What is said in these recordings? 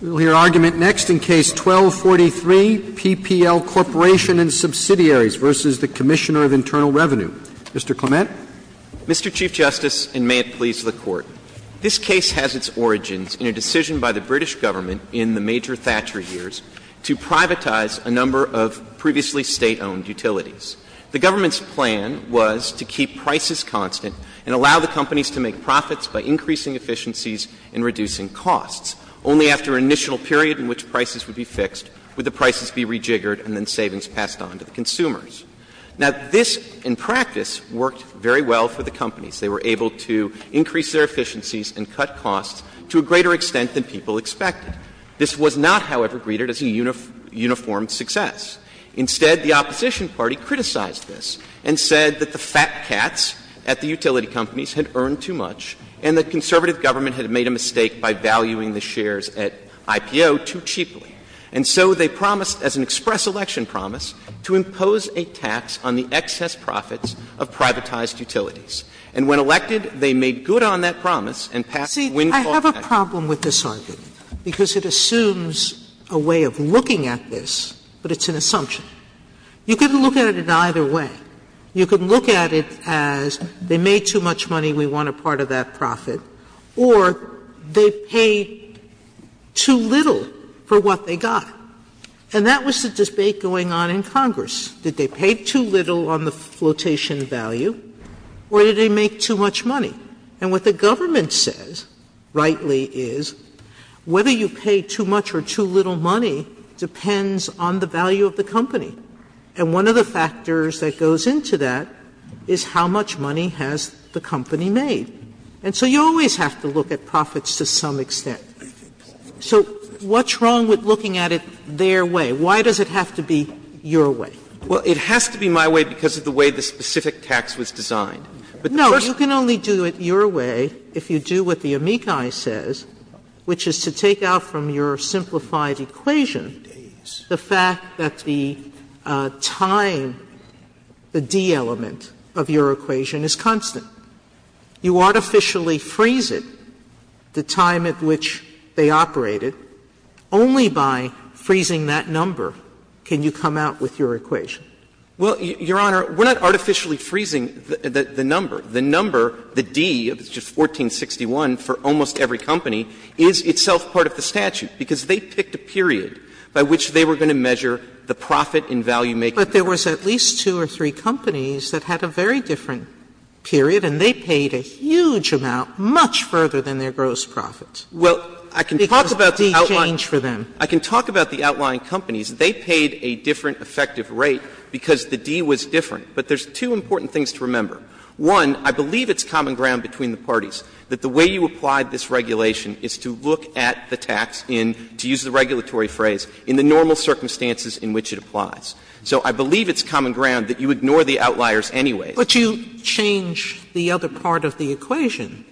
We will hear argument next in Case 12-43, PPL Corporation and Subsidiaries v. Commissioner of Internal Revenue. Mr. Clement. Mr. Chief Justice, and may it please the Court, this case has its origins in a decision by the British government in the major Thatcher years to privatize a number of previously State-owned utilities. The government's plan was to keep prices constant and allow the companies to make profits by increasing efficiencies and reducing costs. Only after an initial period in which prices would be fixed would the prices be rejiggered and then savings passed on to the consumers. Now, this in practice worked very well for the companies. They were able to increase their efficiencies and cut costs to a greater extent than people expected. This was not, however, greeted as a uniform success. Instead, the opposition party criticized this and said that the fat cats at the utility companies had earned too much and the conservative government had made a mistake by valuing the shares at IPO too cheaply. And so they promised, as an express election promise, to impose a tax on the excess profits of privatized utilities. And when elected, they made good on that promise and passed Windfall Act. Sotomayor See, I have a problem with this argument, because it assumes a way of looking at this, but it's an assumption. You can look at it in either way. You can look at it as they made too much money, we want a part of that profit, or they paid too little for what they got. And that was the debate going on in Congress. Did they pay too little on the flotation value or did they make too much money? And what the government says, rightly, is whether you pay too much or too little money depends on the value of the company. And one of the factors that goes into that is how much money has the company made. And so you always have to look at profits to some extent. So what's wrong with looking at it their way? Why does it have to be your way? Well, it has to be my way because of the way the specific tax was designed. No, you can only do it your way if you do what the amici says, which is to take out from your simplified equation the fact that the time, the D element of your equation is constant. You artificially freeze it, the time at which they operated. Only by freezing that number can you come out with your equation. Well, Your Honor, we're not artificially freezing the number. The number, the D, which is 1461 for almost every company, is itself part of the statute because they picked a period by which they were going to measure the profit in value-making. Sotomayor But there was at least two or three companies that had a very different period, and they paid a huge amount, much further than their gross profits. Well, I can talk about the outlying companies. They paid a different effective rate because the D was different. But there's two important things to remember. One, I believe it's common ground between the parties that the way you applied this regulation is to look at the tax in, to use the regulatory phrase, in the normal circumstances in which it applies. So I believe it's common ground that you ignore the outliers anyway. Sotomayor But you change the other part of the equation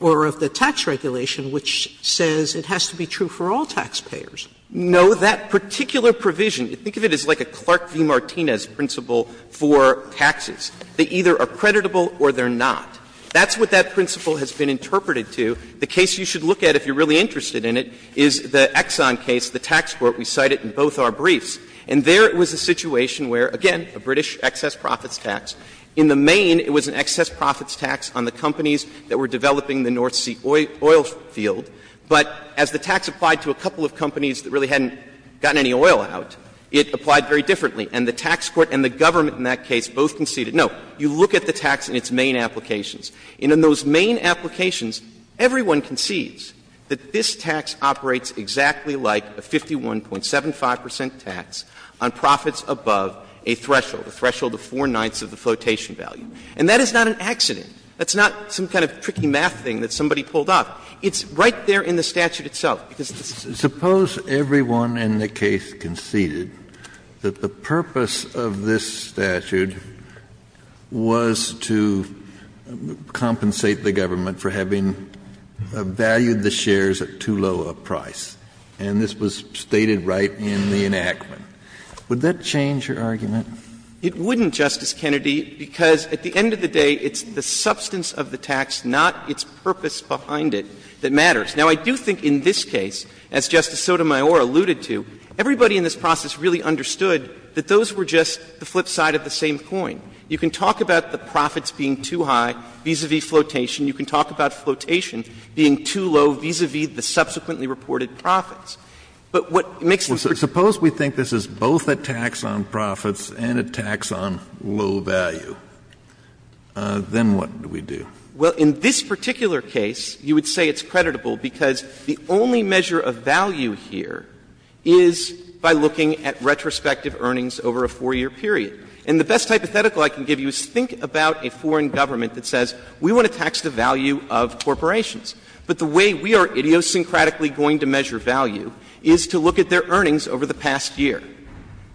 or of the tax regulation which says it has to be true for all taxpayers. No. So that particular provision, think of it as like a Clark v. Martinez principle for taxes. They either are creditable or they're not. That's what that principle has been interpreted to. The case you should look at, if you're really interested in it, is the Exxon case, the tax court. We cite it in both our briefs. And there it was a situation where, again, a British excess profits tax. In the main, it was an excess profits tax on the companies that were developing the North Sea oil field. But as the tax applied to a couple of companies that really hadn't gotten any oil out, it applied very differently. And the tax court and the government in that case both conceded, no, you look at the tax in its main applications. And in those main applications, everyone concedes that this tax operates exactly like a 51.75 percent tax on profits above a threshold, a threshold of four-ninths of the flotation value. And that is not an accident. That's not some kind of tricky math thing that somebody pulled up. It's right there in the statute itself. behind it, that's the purpose of this statute. And so the purpose of this statute is to compensate the government for having valued the shares at too low a price. And this was stated right in the enactment. Would that change your argument? It wouldn't, Justice Kennedy, because at the end of the day, it's the substance of the tax, not its purpose behind it, that matters. Now, I do think in this case, as Justice Sotomayor alluded to, everybody in this process really understood that those were just the flip side of the same coin. You can talk about the profits being too high vis-a-vis flotation. You can talk about flotation being too low vis-a-vis the subsequently reported profits. But what makes the difference is that this is not a tax on profits, it's a tax on profits and a tax on low value. Then what do we do? Well, in this particular case, you would say it's creditable because the only measure of value here is by looking at retrospective earnings over a 4-year period. And the best hypothetical I can give you is think about a foreign government that says we want to tax the value of corporations, but the way we are idiosyncratically going to measure value is to look at their earnings over the past year.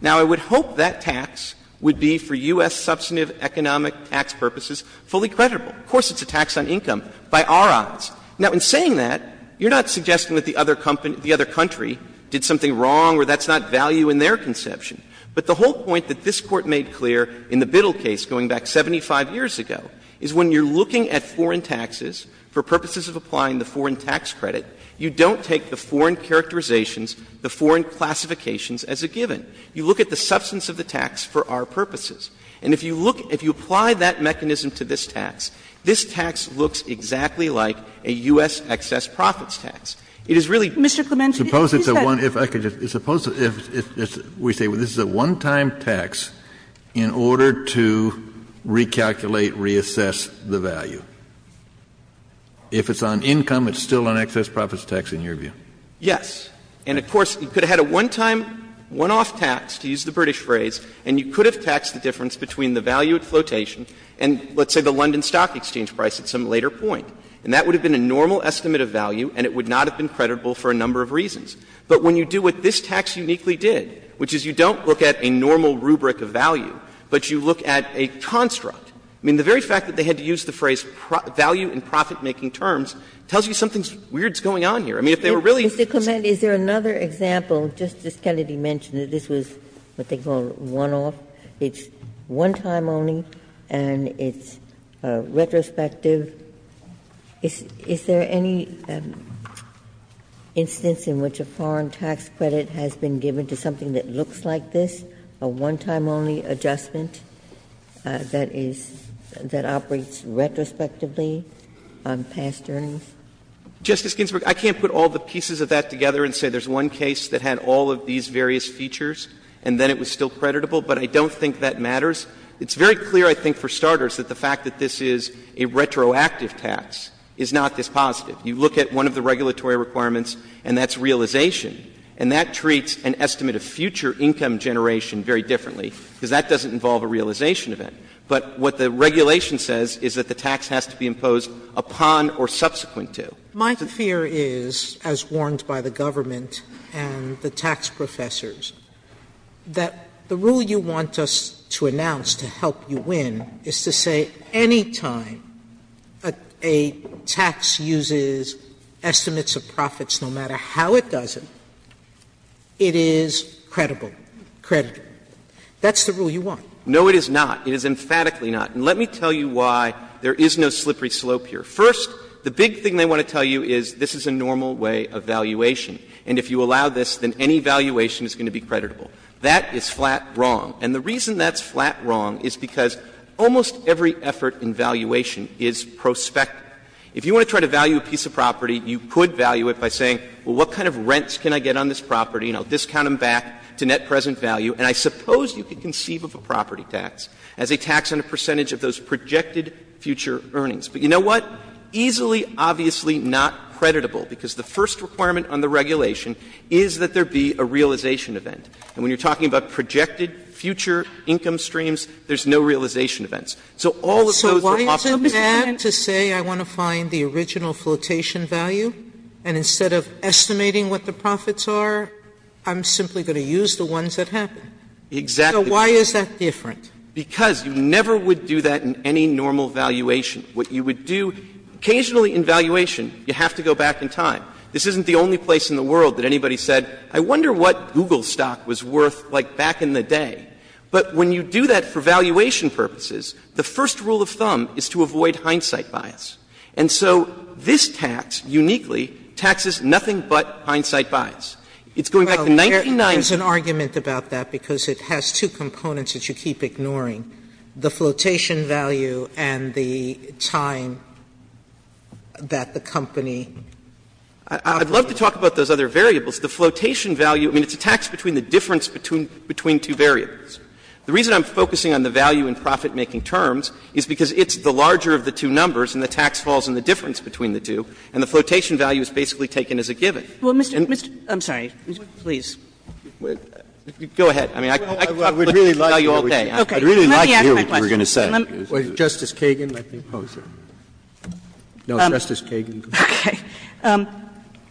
Now, I would hope that tax would be for U.S. substantive economic tax purposes fully creditable. Of course, it's a tax on income by our odds. Now, in saying that, you're not suggesting that the other company — the other country did something wrong or that's not value in their conception. But the whole point that this Court made clear in the Biddle case going back 75 years ago is when you're looking at foreign taxes for purposes of applying the foreign tax credit, you don't take the foreign characterizations, the foreign classifications as a given. You look at the substance of the tax for our purposes. And if you look — if you apply that mechanism to this tax, this tax looks exactly like a U.S. excess profits tax. It is really — Mr. Clemenza, if you say — Kennedy. Suppose it's a one — if I could just — suppose if we say this is a one-time tax in order to recalculate, reassess the value. If it's on income, it's still an excess profits tax in your view. Yes. And, of course, you could have had a one-time, one-off tax, to use the British phrase, and you could have taxed the difference between the value at flotation and, let's say, the London Stock Exchange price at some later point. And that would have been a normal estimate of value and it would not have been credible for a number of reasons. But when you do what this tax uniquely did, which is you don't look at a normal rubric of value, but you look at a construct. I mean, the very fact that they had to use the phrase value in profit-making terms tells you something weird is going on here. I mean, if they were really — Ginsburg. Mr. Clement, is there another example? Justice Kennedy mentioned that this was what they call one-off. It's one-time only and it's retrospective. Is there any instance in which a foreign tax credit has been given to something that looks like this, a one-time only adjustment that is — that operates retrospectively on past earnings? Justice Ginsburg, I can't put all the pieces of that together and say there's one case that had all of these various features and then it was still creditable, but I don't think that matters. It's very clear, I think, for starters, that the fact that this is a retroactive tax is not this positive. You look at one of the regulatory requirements and that's realization. And that treats an estimate of future income generation very differently, because that doesn't involve a realization event. But what the regulation says is that the tax has to be imposed upon or subsequent to. Sotomayor, my fear is, as warned by the government and the tax professors, that the rule you want us to announce to help you win is to say any time a tax uses estimates of profits, no matter how it does it, it is credible, creditable. That's the rule you want. No, it is not. It is emphatically not. And let me tell you why there is no slippery slope here. First, the big thing they want to tell you is this is a normal way of valuation and if you allow this, then any valuation is going to be creditable. That is flat wrong. And the reason that's flat wrong is because almost every effort in valuation is prospective. If you want to try to value a piece of property, you could value it by saying, well, what kind of rents can I get on this property and I'll discount them back to net present value. And I suppose you could conceive of a property tax as a tax on a percentage of those projected future earnings. But you know what? Easily, obviously not creditable, because the first requirement on the regulation is that there be a realization event. And when you're talking about projected future income streams, there's no realization So all of those are off limits. Sotomayor, so why is it bad to say I want to find the original flotation value and instead of estimating what the profits are, I'm simply going to use the ones that happen? Exactly. So why is that different? Because you never would do that in any normal valuation. What you would do, occasionally in valuation, you have to go back in time. This isn't the only place in the world that anybody said, I wonder what Google stock was worth, like, back in the day. But when you do that for valuation purposes, the first rule of thumb is to avoid hindsight bias. And so this tax, uniquely, taxes nothing but hindsight bias. It's going back to 1990. Sotomayor, there's an argument about that, because it has two components that you keep ignoring, the flotation value and the time that the company I'd love to talk about those other variables. The flotation value, I mean, it's a tax between the difference between two variables. The reason I'm focusing on the value in profit-making terms is because it's the larger of the two numbers, and the tax falls in the difference between the two, and the flotation value is basically taken as a given. Kagan. I'm sorry. Please. Go ahead. I mean, I could talk about this with you all day. Let me ask my question. Let me ask my question. Roberts. Justice Kagan, let me pose it. No, Justice Kagan. Okay.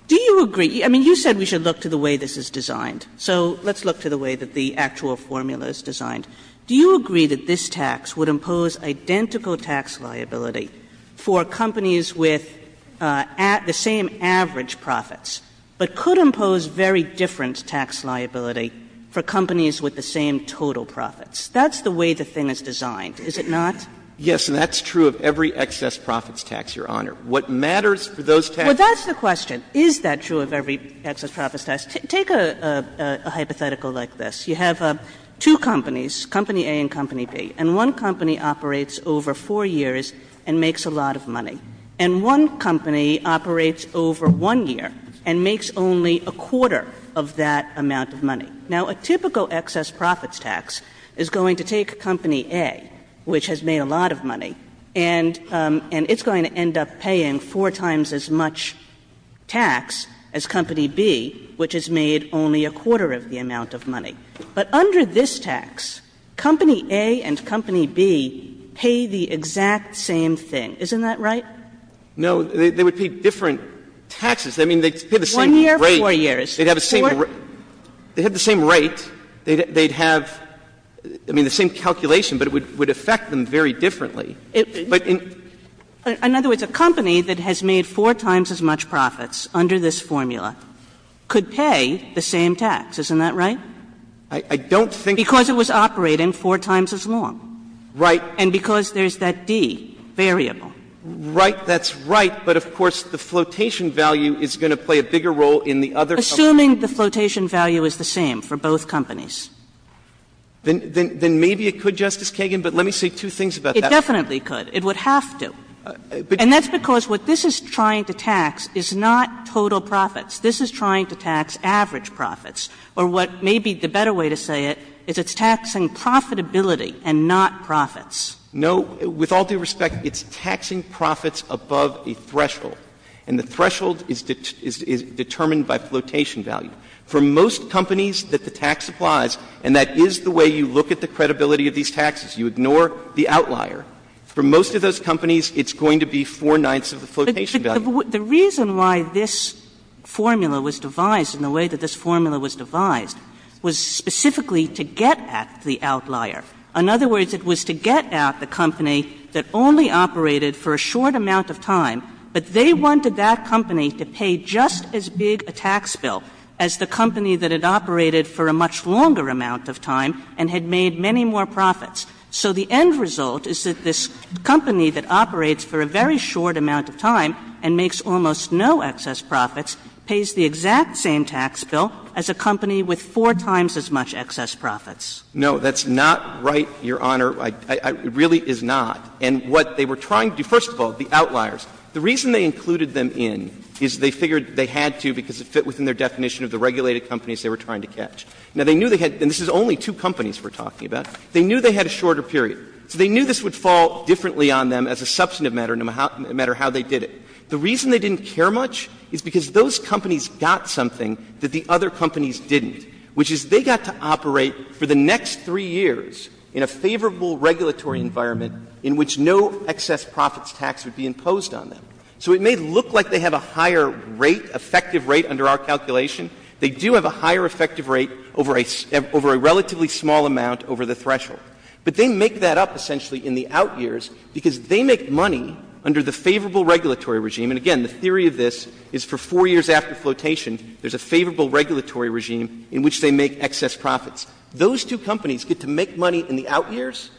Do you agree? I mean, you said we should look to the way this is designed. So let's look to the way that the actual formula is designed. Do you agree that this tax would impose identical tax liability for companies with the same average profits, but could impose very different tax liability for companies with the same total profits? That's the way the thing is designed, is it not? Yes, and that's true of every excess profits tax, Your Honor. What matters for those tax liabilities is the way the thing is designed. Well, that's the question. Is that true of every excess profits tax? Take a hypothetical like this. You have two companies, Company A and Company B, and one company operates over 4 years and makes a lot of money. And one company operates over 1 year and makes only a quarter of that amount of money. Now, a typical excess profits tax is going to take Company A, which has made a lot of money, and it's going to end up paying four times as much tax as Company B, which has made only a quarter of the amount of money. But under this tax, Company A and Company B pay the exact same thing. Isn't that right? No. They would pay different taxes. I mean, they pay the same rate. One year, four years. They'd have the same rate. They'd have the same calculation, but it would affect them very differently. But in other words, a company that has made four times as much profits under this formula could pay the same tax. Isn't that right? I don't think that's true. Because it was operating four times as long. Right. And because there's that D, variable. Right. That's right, but of course the flotation value is going to play a bigger role in the other company. Assuming the flotation value is the same for both companies. Then maybe it could, Justice Kagan, but let me say two things about that. It definitely could. It would have to. And that's because what this is trying to tax is not total profits. This is trying to tax average profits. Or what may be the better way to say it is it's taxing profitability and not profits. No. With all due respect, it's taxing profits above a threshold. And the threshold is determined by flotation value. For most companies that the tax applies, and that is the way you look at the credibility of these taxes, you ignore the outlier. For most of those companies, it's going to be four-ninths of the flotation value. Kagan. The reason why this formula was devised in the way that this formula was devised was specifically to get at the outlier. In other words, it was to get at the company that only operated for a short amount of time, but they wanted that company to pay just as big a tax bill as the company that had operated for a much longer amount of time and had made many more profits. So the end result is that this company that operates for a very short amount of time and makes almost no excess profits pays the exact same tax bill as a company with four times as much excess profits. No, that's not right, Your Honor. It really is not. And what they were trying to do, first of all, the outliers, the reason they included them in is they figured they had to because it fit within their definition of the regulated companies they were trying to catch. Now, they knew they had to, and this is only two companies we're talking about, they knew they had a shorter period. So they knew this would fall differently on them as a substantive matter, no matter how they did it. The reason they didn't care much is because those companies got something that the other companies didn't, which is they got to operate for the next three years in a favorable regulatory environment in which no excess profits tax would be imposed on them. So it may look like they have a higher rate, effective rate under our calculation. They do have a higher effective rate over a relatively small amount over the threshold. But they make that up essentially in the outyears because they make money under the favorable regulatory regime. And again, the theory of this is for four years after flotation, there's a favorable regulatory regime in which they make excess profits. Those two companies get to make money in the outyears,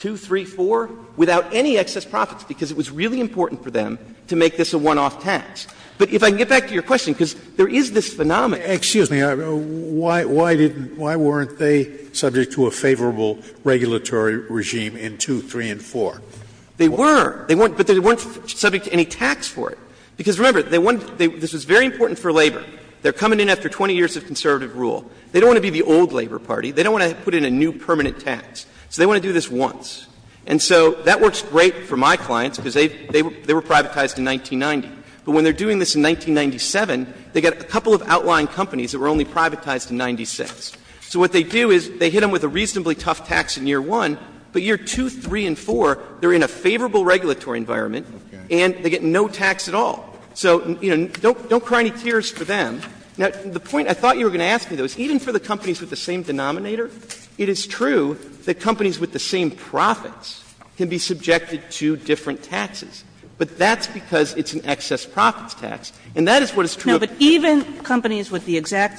2, 3, 4, without any excess profits because it was really important for them to make this a one-off tax. But if I can get back to your question, because there is this phenomenon. Scalia, why weren't they subject to a favorable regulatory regime in 2, 3, and 4? They were. But they weren't subject to any tax for it. Because remember, this was very important for labor. They're coming in after 20 years of conservative rule. They don't want to be the old labor party. They don't want to put in a new permanent tax. So they want to do this once. And so that works great for my clients because they were privatized in 1990. But when they're doing this in 1997, they get a couple of outlying companies that were only privatized in 1996. So what they do is they hit them with a reasonably tough tax in year 1, but year 2, 3, and 4, they're in a favorable regulatory environment and they get no tax at all. So, you know, don't cry any tears for them. Now, the point I thought you were going to ask me, though, is even for the companies with the same denominator, it is true that companies with the same profits can be subjected to different taxes. But that's because it's an excess profits tax. And that is what is true of the exact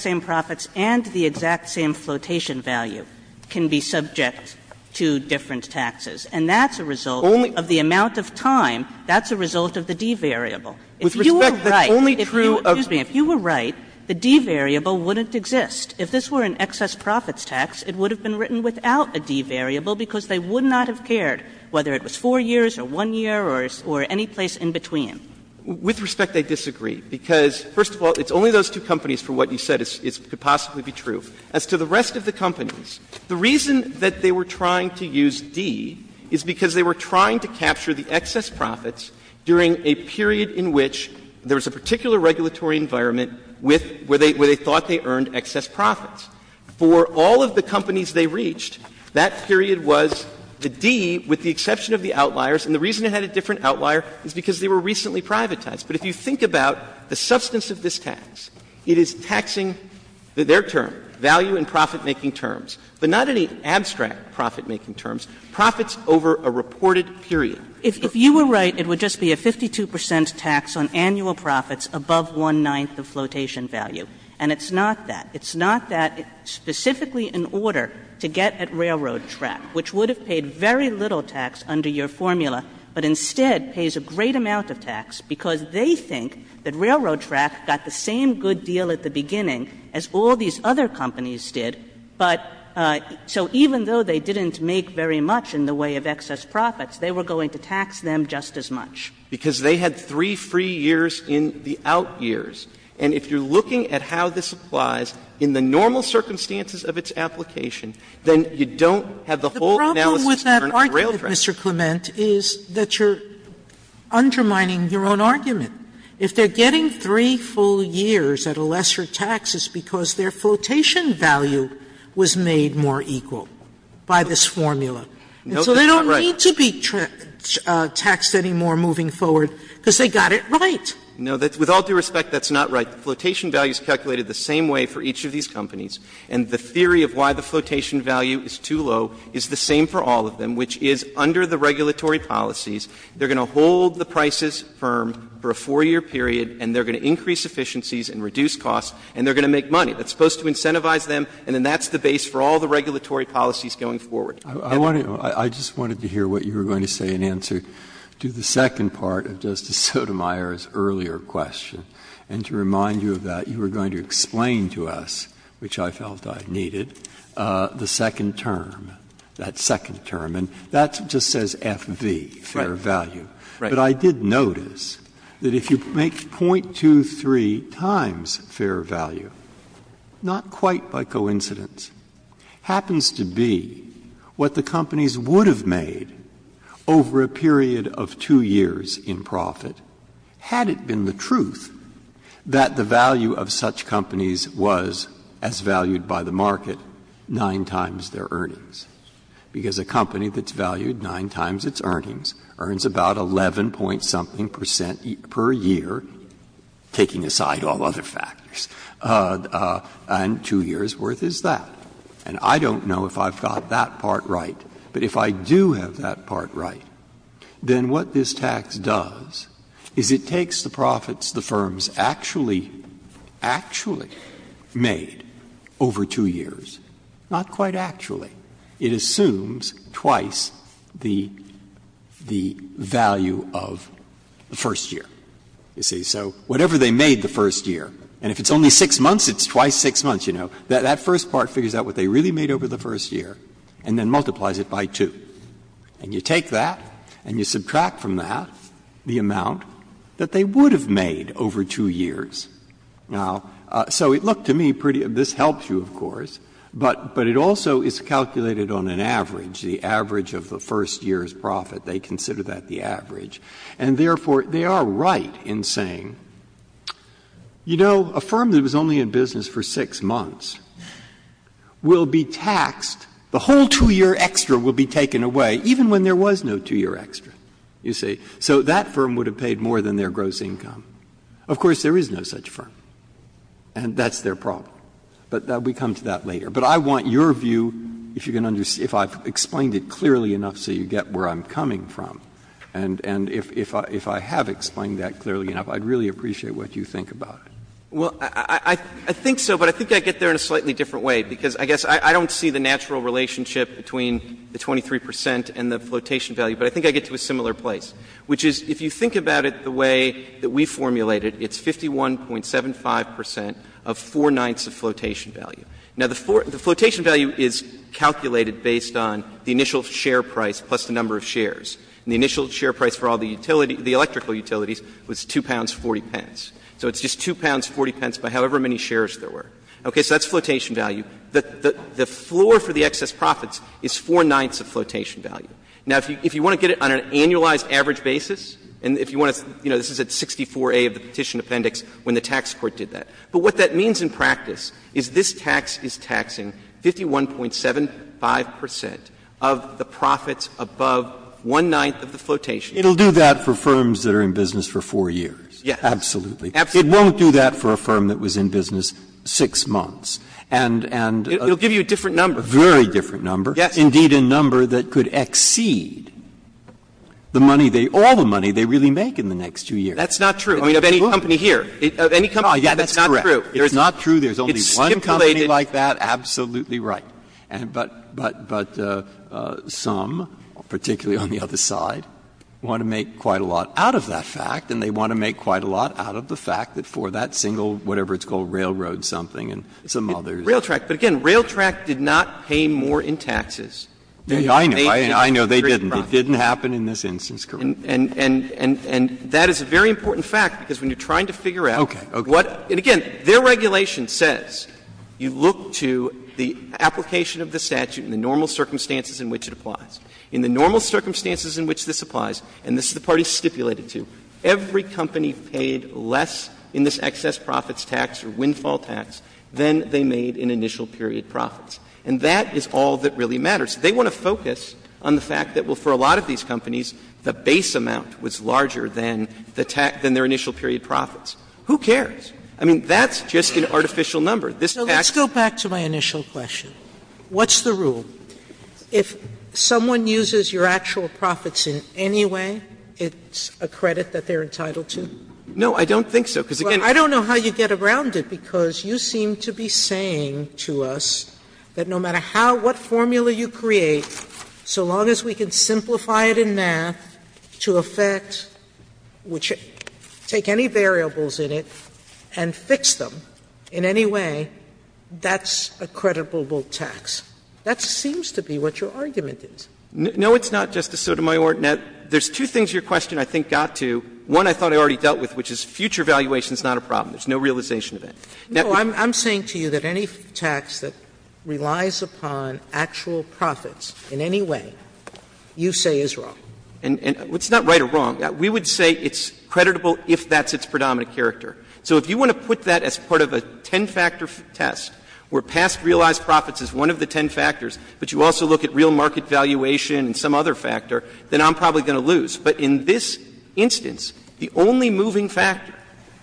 same flotation value can be subject to different taxes. And that's a result of the amount of time. That's a result of the D variable. If you were right, excuse me, if you were right, the D variable wouldn't exist. If this were an excess profits tax, it would have been written without a D variable because they would not have cared whether it was 4 years or 1 year or any place in between. With respect, I disagree, because, first of all, it's only those two companies for what you said could possibly be true. As to the rest of the companies, the reason that they were trying to use D is because they were trying to capture the excess profits during a period in which there was a particular regulatory environment where they thought they earned excess profits. For all of the companies they reached, that period was the D with the exception of the outliers, and the reason it had a different outlier is because they were recently privatized. But if you think about the substance of this tax, it is taxing their term, value and profitmaking terms, but not any abstract profitmaking terms, profits over a reported period. If you were right, it would just be a 52 percent tax on annual profits above one-ninth of flotation value. And it's not that. It's not that specifically in order to get at Railroad Track, which would have paid very little tax under your formula, but instead pays a great amount of tax because they think that Railroad Track got the same good deal at the beginning as all these other companies did. But so even though they didn't make very much in the way of excess profits, they were going to tax them just as much. Because they had three free years in the out years. And if you're looking at how this applies in the normal circumstances of its application, then you don't have the whole analysis turned on Railroad Track. Sotomayor, Mr. Clement, is that you're undermining your own argument. If they're getting three full years at a lesser tax, it's because their flotation value was made more equal by this formula. Clement, and so they don't need to be taxed anymore moving forward because they got it right. Clement, no, with all due respect, that's not right. The flotation value is calculated the same way for each of these companies. And the theory of why the flotation value is too low is the same for all of them, which is under the regulatory policies, they're going to hold the prices firm for a 4-year period, and they're going to increase efficiencies and reduce costs, and they're going to make money. That's supposed to incentivize them, and then that's the base for all the regulatory policies going forward. Breyer, I just wanted to hear what you were going to say in answer to the second part of Justice Sotomayor's earlier question, and to remind you of that, you were going to explain to us, which I felt I needed, the second term, that second term. And that just says FV, fair value. But I did notice that if you make 0.23 times fair value, not quite by coincidence, happens to be what the companies would have made over a period of 2 years, if they were to make 2 years in profit, had it been the truth that the value of such companies was, as valued by the market, 9 times their earnings, because a company that's valued 9 times its earnings earns about 11-point-something percent per year, taking So what this tax does is it takes the profits the firms actually, actually made over 2 years, not quite actually, it assumes twice the value of the first year, you see. So whatever they made the first year, and if it's only 6 months, it's twice 6 months, you know. That first part figures out what they really made over the first year and then multiplies it by 2. And you take that and you subtract from that the amount that they would have made over 2 years. Now, so it looked to me pretty — this helps you, of course, but it also is calculated on an average, the average of the first year's profit. They consider that the average. And therefore, they are right in saying, you know, a firm that was only in business for 6 months will be taxed, the whole 2-year extra will be taken away, even when there was no 2-year extra, you see. So that firm would have paid more than their gross income. Of course, there is no such firm, and that's their problem. But we come to that later. But I want your view, if you can understand, if I've explained it clearly enough so you get where I'm coming from. And if I have explained that clearly enough, I'd really appreciate what you think about it. Well, I think so, but I think I get there in a slightly different way, because I guess I don't see the natural relationship between the 23 percent and the flotation value, but I think I get to a similar place, which is if you think about it the way that we formulate it, it's 51.75 percent of four-ninths of flotation value. Now, the flotation value is calculated based on the initial share price plus the number of shares. And the initial share price for all the utilities, the electrical utilities, was 2 pounds 40 pence. So it's just 2 pounds 40 pence by however many shares there were. Okay. So that's flotation value. The floor for the excess profits is four-ninths of flotation value. Now, if you want to get it on an annualized average basis, and if you want to, you know, this is at 64A of the Petition Appendix when the tax court did that, but what that means in practice is this tax is taxing 51.75 percent of the profits above one-ninth of the flotation value. Breyer, it'll do that for firms that are in business for four years. Yes. Absolutely. It won't do that for a firm that was in business six months. And, and a very different number, indeed, a number that could exceed the money they, all the money they really make in the next two years. That's not true of any company here. Of any company, that's not true. It's not true. There's only one company like that. Absolutely right. But, but, but some, particularly on the other side, want to make quite a lot out of that fact, and they want to make quite a lot out of the fact that for that single, whatever it's called, railroad something and some others. Railtrack, but again, Railtrack did not pay more in taxes than they did in this case. I know. I know. They didn't. It didn't happen in this instance, correct? And, and, and that is a very important fact, because when you're trying to figure out what, and again, their regulation says you look to the application of the statute in the normal circumstances in which it applies. In the normal circumstances in which this applies, and this is the party stipulated to, every company paid less in this excess profits tax or windfall tax than they made in initial period profits. And that is all that really matters. They want to focus on the fact that, well, for a lot of these companies, the base amount was larger than the tax, than their initial period profits. Who cares? I mean, that's just an artificial number. This fact is not true. Sotomayor, let's go back to my initial question. What's the rule? If someone uses your actual profits in any way, it's a credit that they're entitled to? No, I don't think so, because again, Well, I don't know how you get around it, because you seem to be saying to us that no matter how, what formula you create, so long as we can simplify it in math to effect which take any variables in it and fix them in any way, that's a creditable tax. That seems to be what your argument is. No, it's not, Justice Sotomayor. Now, there's two things your question I think got to. One I thought I already dealt with, which is future valuation is not a problem. There's no realization of that. No, I'm saying to you that any tax that relies upon actual profits in any way you say is wrong. And it's not right or wrong. We would say it's creditable if that's its predominant character. So if you want to put that as part of a ten-factor test where past realized profits is one of the ten factors, but you also look at real market valuation and some other factor, then I'm probably going to lose. But in this instance, the only moving factor,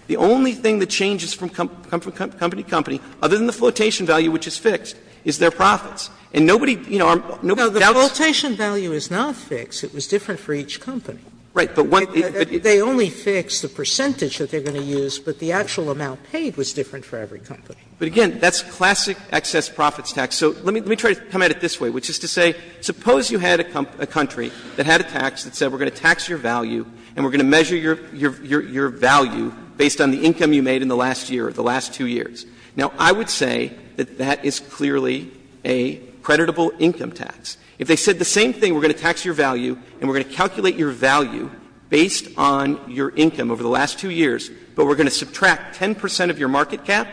the only thing that changes from company to company, other than the flotation value which is fixed, is their profits. And nobody, you know, nobody doubts. Sotomayor, No, the flotation value is not fixed. It was different for each company. They only fixed the percentage that they're going to use, but the actual amount paid was different for every company. But, again, that's classic excess profits tax. So let me try to come at it this way, which is to say, suppose you had a country that had a tax that said we're going to tax your value and we're going to measure your value based on the income you made in the last year or the last two years. Now, I would say that that is clearly a creditable income tax. If they said the same thing, we're going to tax your value and we're going to calculate your value based on your income over the last two years, but we're going to subtract 10 percent of your market cap,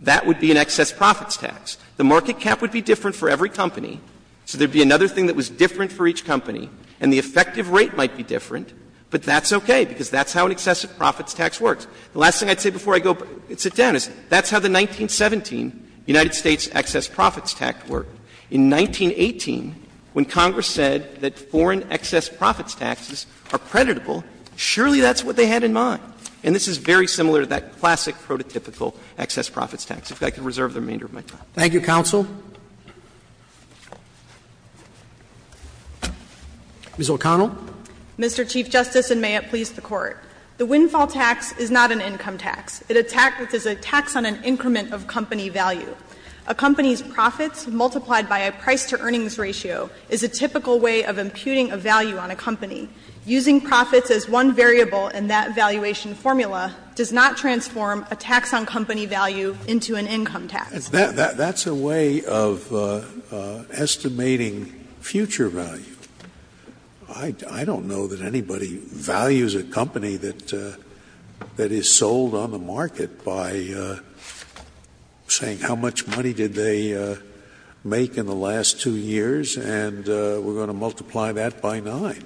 that would be an excess profits tax. The market cap would be different for every company, so there would be another thing that was different for each company, and the effective rate might be different, but that's okay because that's how an excessive profits tax works. The last thing I'd say before I go and sit down is that's how the 1917 United States excess profits tax worked. In 1918, when Congress said that foreign excess profits taxes are creditable, surely that's what they had in mind. And this is very similar to that classic prototypical excess profits tax. If I could reserve the remainder of my time. Roberts. Thank you, counsel. Ms. O'Connell. O'Connell. Mr. Chief Justice, and may it please the Court. The windfall tax is not an income tax. It is a tax on an increment of company value. A company's profits multiplied by a price-to-earnings ratio is a typical way of imputing a value on a company. Using profits as one variable in that valuation formula does not transform a tax on company value into an income tax. Scalia. That's a way of estimating future value. I don't know that anybody values a company that is sold on the market by saying how much money did they make in the last two years, and we're going to multiply that by 9.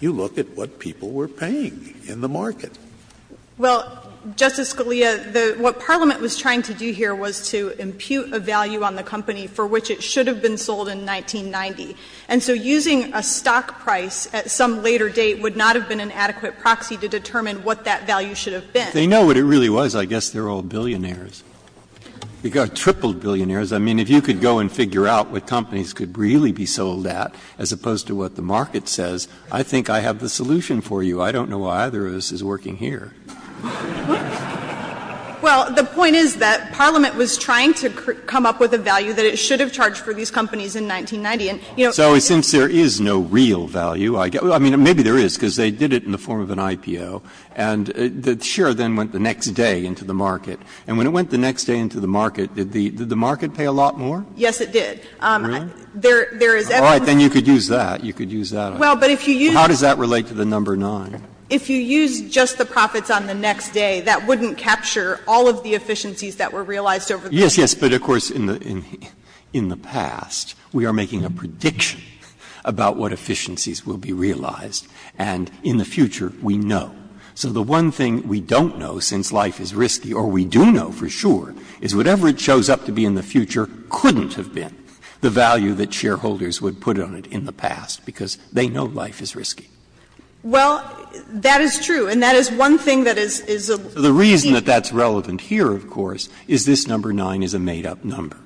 You look at what people were paying in the market. Well, Justice Scalia, what Parliament was trying to do here was to impute a value on the company for which it should have been sold in 1990. And so using a stock price at some later date would not have been an adequate proxy to determine what that value should have been. They know what it really was. I guess they're all billionaires. They've got triple billionaires. I mean, if you could go and figure out what companies could really be sold at as opposed to what the market says, I think I have the solution for you. I don't know why either of us is working here. Well, the point is that Parliament was trying to come up with a value that it should have charged for these companies in 1990. So since there is no real value, I mean, maybe there is, because they did it in the form of an IPO. And the share then went the next day into the market. And when it went the next day into the market, did the market pay a lot more? Yes, it did. Really? There is evidence. All right, then you could use that. You could use that. Well, but if you use it. How does that relate to the number 9? If you use just the profits on the next day, that wouldn't capture all of the efficiencies that were realized over the next day. Yes, yes, but of course, in the past, we are making a prediction about what efficiencies will be realized. And in the future, we know. So the one thing we don't know, since life is risky, or we do know for sure, is whatever it shows up to be in the future couldn't have been the value that shareholders would put on it in the past, because they know life is risky. Well, that is true, and that is one thing that is a leap. The reason that that's relevant here, of course, is this number 9 is a made-up number.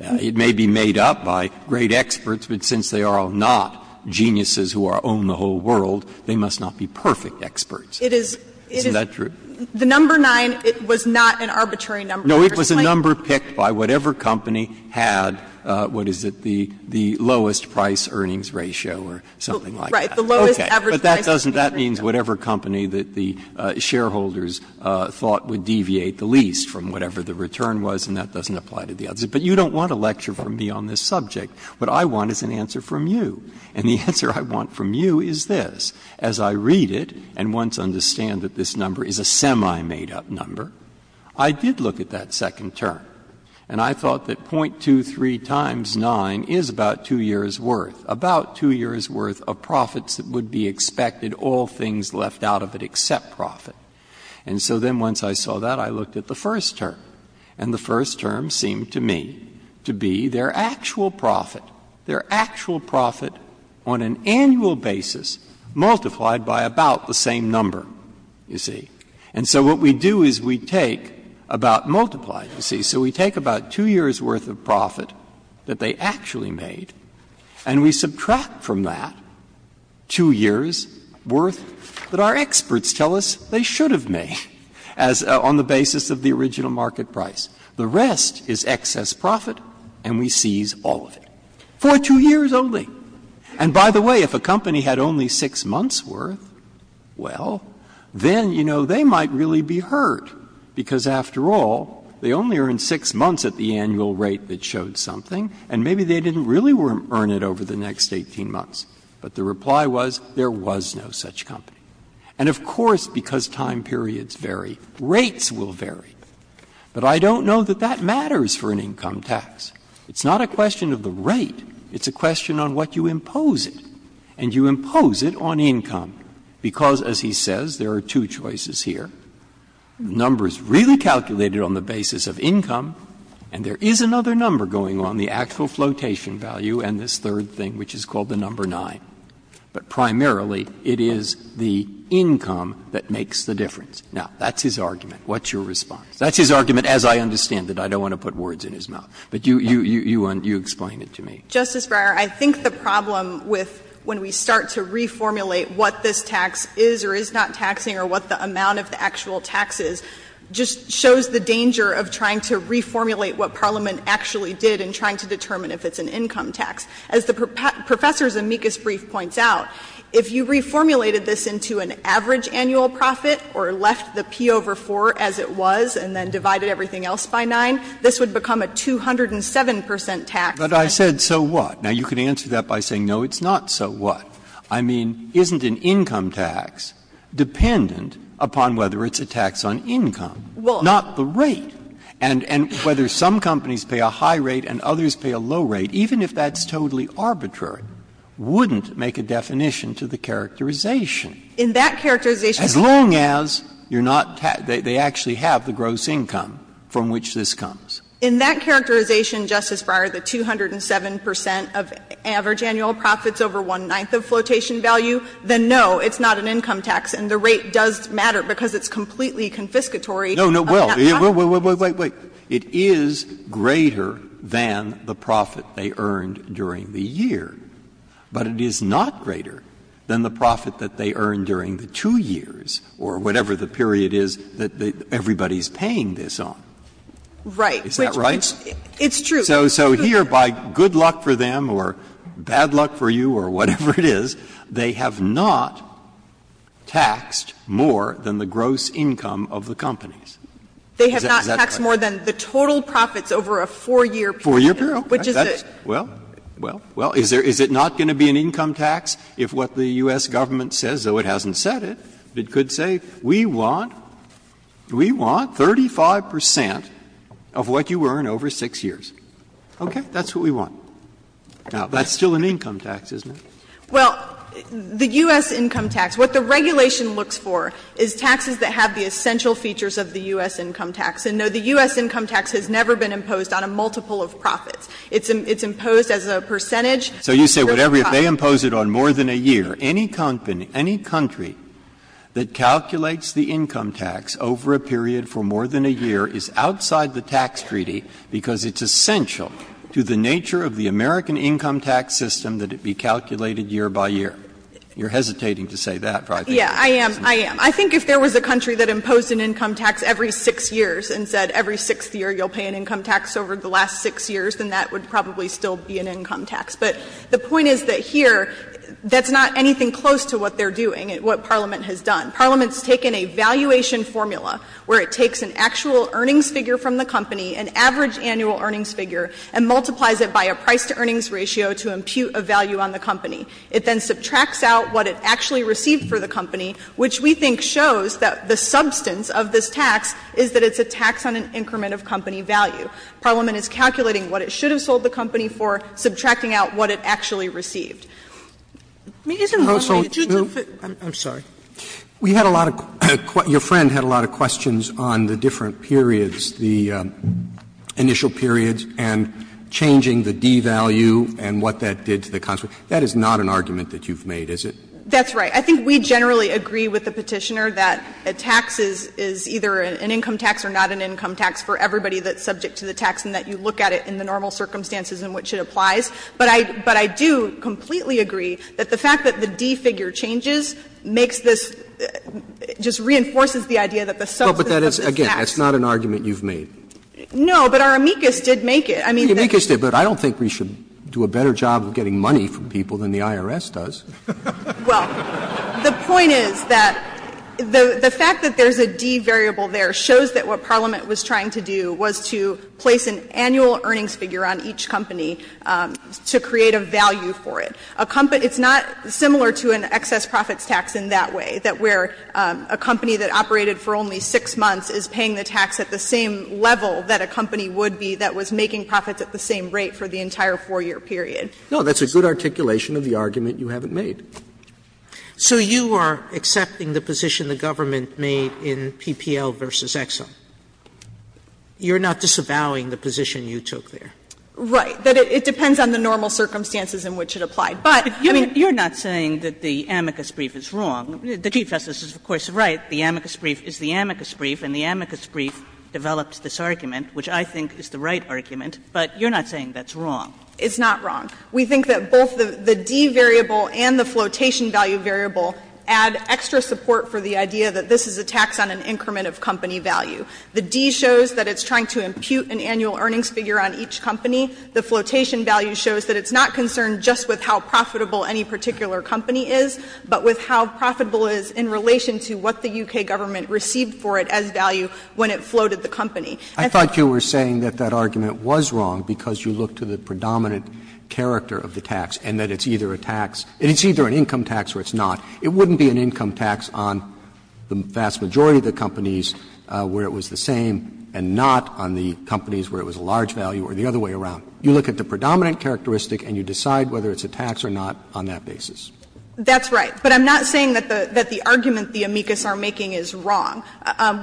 It may be made up by great experts, but since they are all not geniuses who own the whole world, they must not be perfect experts. Isn't that true? The number 9, it was not an arbitrary number. No, it was a number picked by whatever company had, what is it, the lowest price earnings ratio or something like that. Okay. But that doesn't mean whatever company that the shareholders thought would deviate the least from whatever the return was, and that doesn't apply to the others. But you don't want a lecture from me on this subject. What I want is an answer from you. And the answer I want from you is this. As I read it and once understand that this number is a semi-made-up number, I did look at that second term, and I thought that 0.23 times 9 is about 2 years' worth, about 2 years' worth of profits that would be expected, all things left out of it except profit. And so then once I saw that, I looked at the first term, and the first term seemed to me to be their actual profit, their actual profit on an annual basis multiplied by about the same number, you see. And so what we do is we take about multiplied, you see. So we take about 2 years' worth of profit that they actually made, and we subtract from that 2 years' worth that our experts tell us they should have made as the basis of the original market price. The rest is excess profit, and we seize all of it for 2 years only. And by the way, if a company had only 6 months' worth, well, then, you know, they might really be hurt, because after all, they only earned 6 months at the annual rate that showed something, and maybe they didn't really earn it over the next 18 months. But the reply was there was no such company. And of course, because time periods vary, rates will vary. But I don't know that that matters for an income tax. It's not a question of the rate. It's a question on what you impose it, and you impose it on income, because, as he says, there are two choices here. The number is really calculated on the basis of income, and there is another number going on, the actual flotation value, and this third thing, which is called the number 9. But primarily, it is the income that makes the difference. Now, that's his argument. What's your response? That's his argument, as I understand it. I don't want to put words in his mouth. But you explain it to me. Justice Breyer, I think the problem with when we start to reformulate what this tax is or is not taxing or what the amount of the actual tax is just shows the danger of trying to reformulate what Parliament actually did in trying to determine if it's an income tax. As the Professor's amicus brief points out, if you reformulated this into an average annual profit or left the P over 4 as it was and then divided everything else by 9, this would become a 207 percent tax. But I said, so what? Now, you can answer that by saying, no, it's not so what. I mean, isn't an income tax dependent upon whether it's a tax on income, not the rate? And whether some companies pay a high rate and others pay a low rate, even if that's totally arbitrary, wouldn't make a definition to the characterization. In that characterization. As long as you're not taxing, they actually have the gross income from which this comes. In that characterization, Justice Breyer, the 207 percent of average annual profits over one-ninth of flotation value, then no, it's not an income tax. And the rate does matter because it's completely confiscatory. No, no. Well, wait, wait, wait. It is greater than the profit they earned during the year. But it is not greater than the profit that they earned during the two years or whatever the period is that everybody's paying this on. Right. Is that right? It's true. So here, by good luck for them or bad luck for you or whatever it is, they have not taxed more than the gross income of the companies. Is that correct? They have not taxed more than the total profits over a four-year period. Four-year period. Which is a. Well, well, well, is it not going to be an income tax if what the U.S. government says, though it hasn't said it, it could say, we want, we want 35 percent of what you earn over 6 years. Okay. That's what we want. Now, that's still an income tax, isn't it? Well, the U.S. income tax, what the regulation looks for is taxes that have the essential features of the U.S. income tax. And, no, the U.S. income tax has never been imposed on a multiple of profits. It's imposed as a percentage. So you say whatever, if they impose it on more than a year, any company, any country that calculates the income tax over a period for more than a year is outside the tax treaty because it's essential to the nature of the American income tax system that it be calculated year by year. You're hesitating to say that, but I think you're right. Yeah, I am, I am. I think if there was a country that imposed an income tax every 6 years and said every 6th year you'll pay an income tax over the last 6 years, then that would probably still be an income tax. But the point is that here, that's not anything close to what they're doing. What Parliament has done, Parliament's taken a valuation formula where it takes an actual earnings figure from the company, an average annual earnings figure, and multiplies it by a price-to-earnings ratio to impute a value on the company. It then subtracts out what it actually received for the company, which we think shows that the substance of this tax is that it's a tax on an increment of company value. Parliament is calculating what it should have sold the company for, subtracting out what it actually received. Let me just in one way just to fit. Roberts, I'm sorry. We had a lot of questions, your friend had a lot of questions on the different periods, the initial periods and changing the D value and what that did to the consequence. That is not an argument that you've made, is it? That's right. I think we generally agree with the Petitioner that a tax is either an income tax or not an income tax for everybody that's subject to the tax and that you look at it in the normal circumstances in which it applies. But I do completely agree that the fact that the D figure changes makes this, just reinforces the idea that the substance of this tax. But that is, again, that's not an argument you've made. No, but our amicus did make it. I mean, the amicus did, but I don't think we should do a better job of getting money from people than the IRS does. Well, the point is that the fact that there's a D variable there shows that what a company would do to create a value for it, it's not similar to an excess profits tax in that way, that where a company that operated for only 6 months is paying the tax at the same level that a company would be that was making profits at the same rate for the entire 4-year period. No, that's a good articulation of the argument you haven't made. So you are accepting the position the government made in PPL v. Exxon. You're not disavowing the position you took there. Right. That it depends on the normal circumstances in which it applied. But I mean you're not saying that the amicus brief is wrong. The Chief Justice is, of course, right. The amicus brief is the amicus brief, and the amicus brief develops this argument, which I think is the right argument. But you're not saying that's wrong. It's not wrong. We think that both the D variable and the flotation value variable add extra support for the idea that this is a tax on an increment of company value. The D shows that it's trying to impute an annual earnings figure on each company. The flotation value shows that it's not concerned just with how profitable any particular company is, but with how profitable it is in relation to what the U.K. government received for it as value when it floated the company. I thought you were saying that that argument was wrong because you look to the predominant character of the tax and that it's either a tax or it's not. It wouldn't be an income tax on the vast majority of the companies where it was a tax that was the same and not on the companies where it was a large value or the other way around. You look at the predominant characteristic and you decide whether it's a tax or not on that basis. That's right. But I'm not saying that the argument the amicus are making is wrong.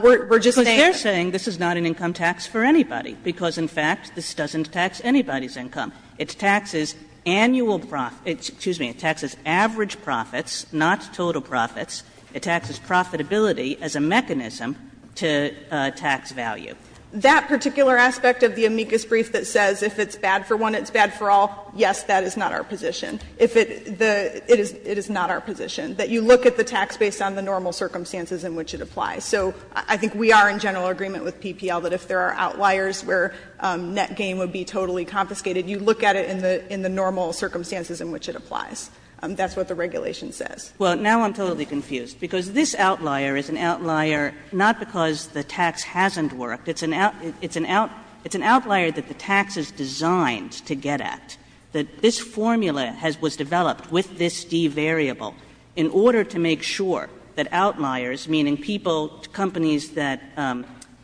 We're just saying that's not an income tax for anybody because in fact this doesn't tax anybody's income. It taxes annual profits – excuse me, it taxes average profits, not total profits. It taxes profitability as a mechanism to tax value. That particular aspect of the amicus brief that says if it's bad for one, it's bad for all, yes, that is not our position. If it – it is not our position that you look at the tax based on the normal circumstances in which it applies. So I think we are in general agreement with PPL that if there are outliers where net gain would be totally confiscated, you look at it in the normal circumstances in which it applies. That's what the regulation says. Well, now I'm totally confused, because this outlier is an outlier not because the tax hasn't worked. It's an outlier that the tax is designed to get at, that this formula has – was developed with this D variable in order to make sure that outliers, meaning people, companies that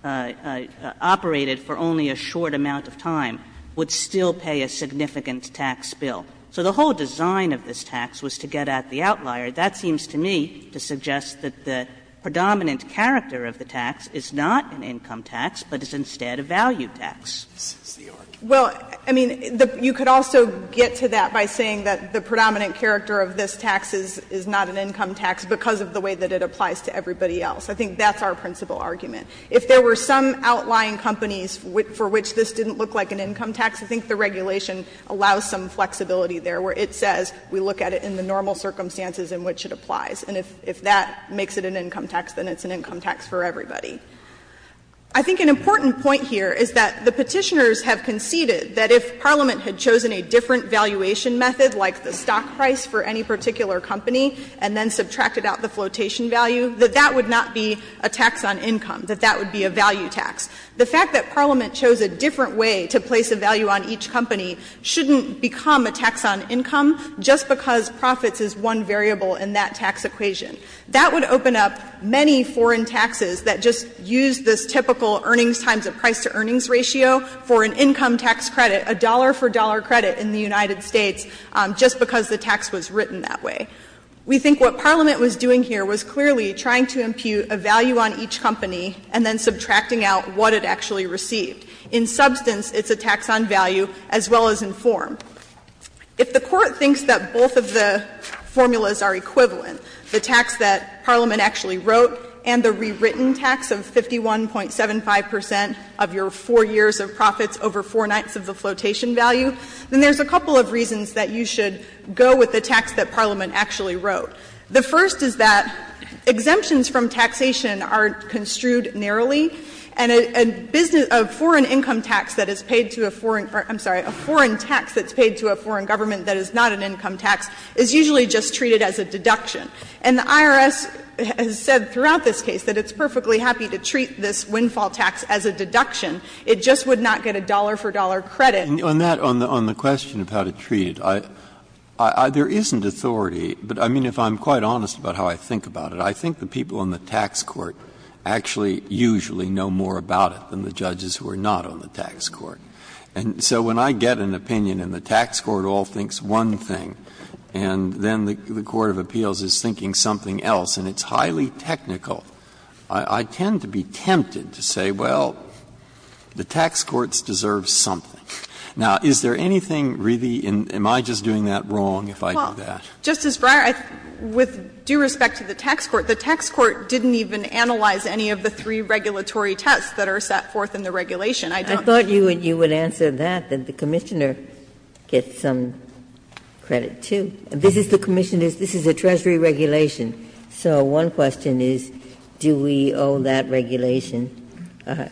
operated for only a short amount of time, would still pay a significant tax bill. So the whole design of this tax was to get at the outlier. That seems to me to suggest that the predominant character of the tax is not an income tax, but is instead a value tax. Well, I mean, you could also get to that by saying that the predominant character of this tax is not an income tax because of the way that it applies to everybody else. I think that's our principal argument. If there were some outlying companies for which this didn't look like an income tax, I think the regulation allows some flexibility there, where it says we look at it in the normal circumstances in which it applies. And if that makes it an income tax, then it's an income tax for everybody. I think an important point here is that the Petitioners have conceded that if Parliament had chosen a different valuation method, like the stock price for any particular company, and then subtracted out the flotation value, that that would not be a tax on income, that that would be a value tax. The fact that Parliament chose a different way to place a value on each company shouldn't become a tax on income just because profits is one variable in that tax equation. That would open up many foreign taxes that just use this typical earnings times a price-to-earnings ratio for an income tax credit, a dollar-for-dollar credit in the United States, just because the tax was written that way. We think what Parliament was doing here was clearly trying to impute a value on each company and then subtracting out what it actually received. In substance, it's a tax on value as well as in form. If the Court thinks that both of the formulas are equivalent, the tax that Parliament actually wrote and the rewritten tax of 51.75 percent of your 4 years of profits over four-ninths of the flotation value, then there's a couple of reasons that you should go with the tax that Parliament actually wrote. The first is that exemptions from taxation are construed narrowly, and a business of foreign income tax that is paid to a foreign or, I'm sorry, a foreign tax that's paid to a foreign government that is not an income tax is usually just treated as a deduction. And the IRS has said throughout this case that it's perfectly happy to treat this windfall tax as a deduction. It just would not get a dollar-for-dollar credit. Breyer, on that, on the question of how to treat it, I — there isn't authority. But, I mean, if I'm quite honest about how I think about it, I think the people on the tax court actually usually know more about it than the judges who are not on the tax court. And so when I get an opinion and the tax court all thinks one thing, and then the court of appeals is thinking something else, and it's highly technical, I tend to be tempted to say, well, the tax courts deserve something. Now, is there anything really in — am I just doing that wrong if I do that? Justice Breyer, with due respect to the tax court, the tax court didn't even analyze any of the three regulatory tests that are set forth in the regulation. I don't think that's the case. Ginsburg. I thought you would answer that, that the Commissioner gets some credit, too. This is the Commission's — this is the Treasury regulation. So one question is, do we owe that regulation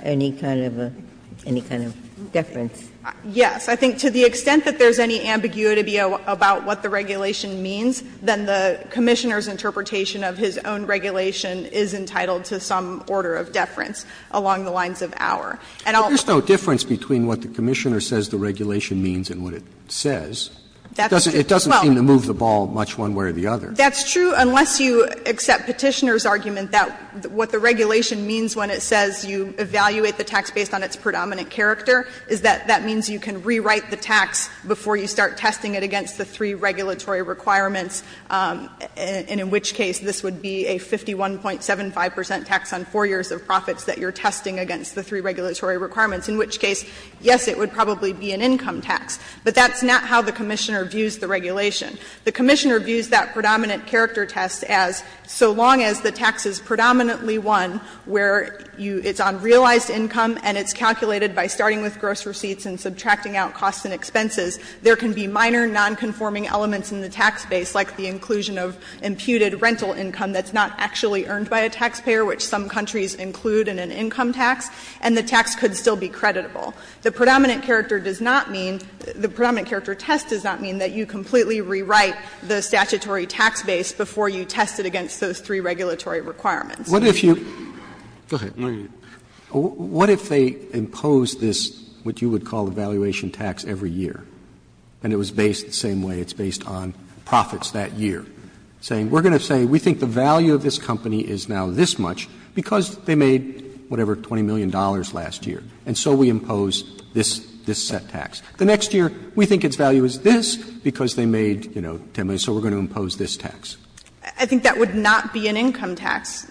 any kind of a — any kind of deference? Yes. I think to the extent that there's any ambiguity about what the regulation means, then the Commissioner's interpretation of his own regulation is entitled to some order of deference along the lines of our. And I'll — Roberts. But there's no difference between what the Commissioner says the regulation means and what it says. That's true. It doesn't seem to move the ball much one way or the other. That's true, unless you accept Petitioner's argument that what the regulation means when it says you evaluate the tax based on its predominant character is that that means you can rewrite the tax before you start testing it against the three regulatory requirements, and in which case this would be a 51.75 percent tax on 4 years of profits that you're testing against the three regulatory requirements, in which case, yes, it would probably be an income tax. But that's not how the Commissioner views the regulation. The Commissioner views that predominant character test as so long as the tax is predominantly one where you — it's on realized income and it's calculated by starting with gross receipts and subtracting out costs and expenses, there can be minor nonconforming elements in the tax base, like the inclusion of imputed rental income that's not actually earned by a taxpayer, which some countries include in an income tax, and the tax could still be creditable. The predominant character does not mean — the predominant character test does not mean that you completely rewrite the statutory tax base before you test it against those three regulatory requirements. Roberts What if you — go ahead. What if they impose this, what you would call the valuation tax, every year, and it was based the same way, it's based on profits that year, saying we're going to say we think the value of this company is now this much because they made, whatever, $20 million last year, and so we impose this set tax. The next year, we think its value is this because they made, you know, 10 million, so we're going to impose this tax. I think that would not be an income tax,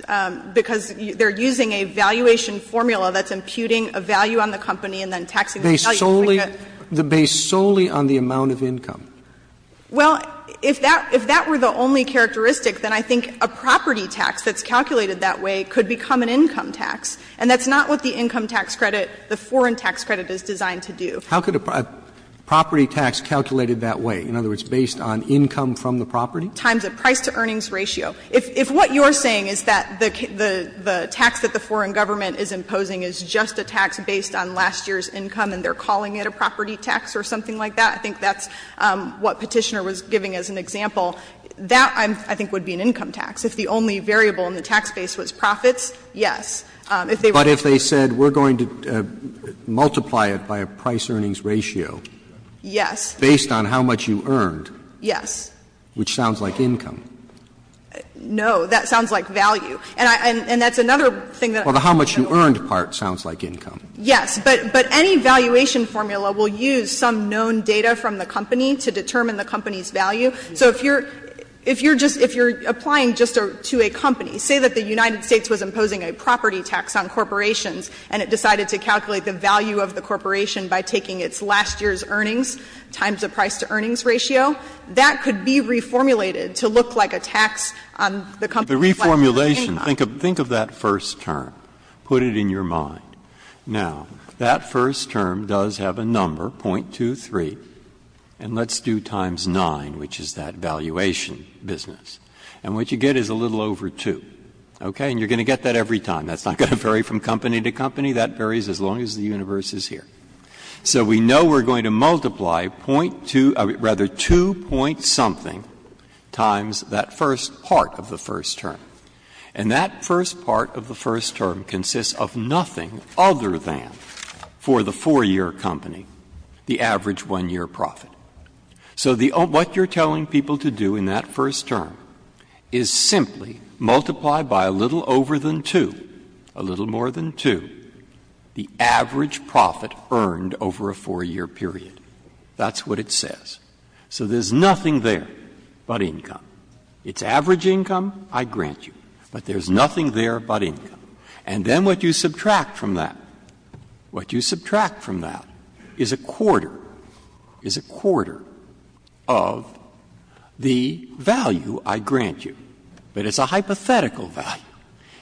because they're using a valuation formula that's imputing a value on the company and then taxing the value. They solely — they're based solely on the amount of income. Well, if that — if that were the only characteristic, then I think a property tax that's calculated that way could become an income tax, and that's not what the income tax credit, the foreign tax credit, is designed to do. How could a property tax calculated that way, in other words, based on income from the property? Times a price-to-earnings ratio. If what you're saying is that the tax that the foreign government is imposing is just a tax based on last year's income and they're calling it a property tax or something like that, I think that's what Petitioner was giving as an example, that, I think, would be an income tax. If the only variable in the tax base was profits, yes. If they were to say we're going to multiply it by a price-earnings ratio. Yes. Based on how much you earned. Yes. Which sounds like income. No. That sounds like value. And that's another thing that I'm not sure. Well, the how much you earned part sounds like income. Yes. But any valuation formula will use some known data from the company to determine the company's value. So if you're — if you're just — if you're applying just to a company, say that the United States was imposing a property tax on corporations and it decided to calculate the value of the corporation by taking its last year's earnings times a price-to-earnings ratio, that could be reformulated to look like a tax on the company's last year's income. But the reformulation, think of that first term, put it in your mind. Now, that first term does have a number, 0.23, and let's do times 9, which is that valuation business, and what you get is a little over 2, okay? And you're going to get that every time. That's not going to vary from company to company. That varies as long as the universe is here. So we know we're going to multiply 0.2 — rather, 2-point-something times that first part of the first term. And that first part of the first term consists of nothing other than, for the 4-year company, the average 1-year profit. So the — what you're telling people to do in that first term is simply multiply by a little over than 2, a little more than 2, the average profit earned over a 4-year period. That's what it says. So there's nothing there but income. It's average income, I grant you, but there's nothing there but income. And then what you subtract from that, what you subtract from that is a quarter, is a quarter of the value I grant you. But it's a hypothetical value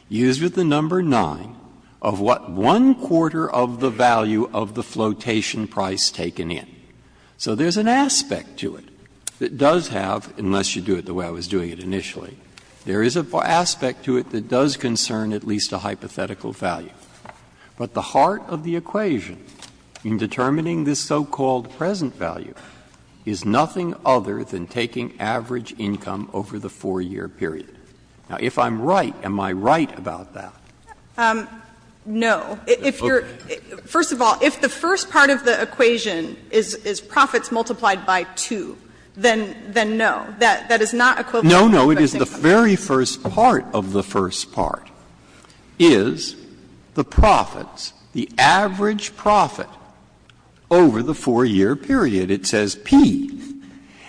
used with the number 9 of what one-quarter of the value of the flotation price taken in. So there's an aspect to it that does have, unless you do it the way I was doing it initially, there is an aspect to it that does concern at least a hypothetical value. But the heart of the equation in determining this so-called present value is nothing other than taking average income over the 4-year period. Now, if I'm right, am I right about that? No. If you're — first of all, if the first part of the equation is profits multiplied by 2, then no. That is not equivalent to the first part. No, no. It is the very first part of the first part is the profits, the average profit over the 4-year period. It says P.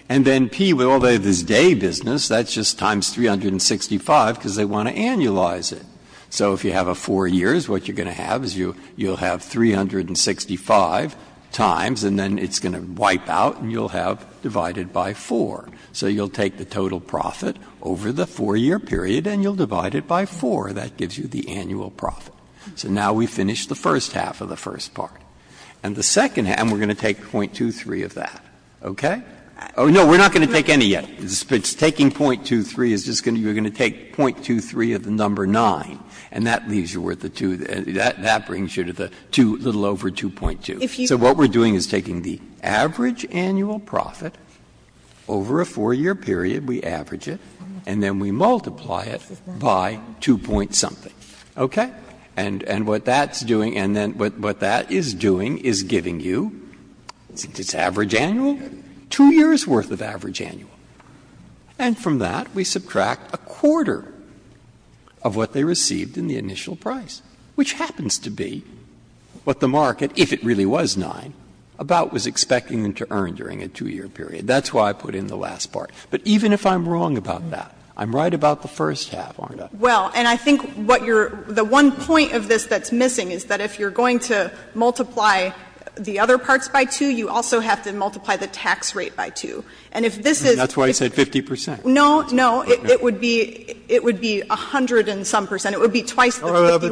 And then P, well, they have this day business. That's just times 365, because they want to annualize it. So if you have a 4-year, what you're going to have is you'll have 365 times, and then it's going to wipe out and you'll have divided by 4. So you'll take the total profit over the 4-year period and you'll divide it by 4. That gives you the annual profit. So now we finish the first half of the first part. And the second half — and we're going to take .23 of that, okay? Oh, no, we're not going to take any yet. Taking .23 is just going to — you're going to take .23 of the number 9, and that leaves you with the 2. That brings you to the little over 2.2. So what we're doing is taking the average annual profit over a 4-year period, we average it, and then we multiply it by 2-point-something, okay? And what that's doing — and then what that is doing is giving you, since it's average annual, 2 years' worth of average annual. And from that, we subtract a quarter of what they received in the initial price, which happens to be what the market, if it really was 9, about was expecting them to earn during a 2-year period. That's why I put in the last part. But even if I'm wrong about that, I'm right about the first half, aren't I? Well, and I think what you're — the one point of this that's missing is that if you're going to multiply the other parts by 2, you also have to multiply the tax rate by 2. And if this is — That's why I said 50 percent. No, no. It would be — it would be 100-and-some percent. It would be twice the 51-point-something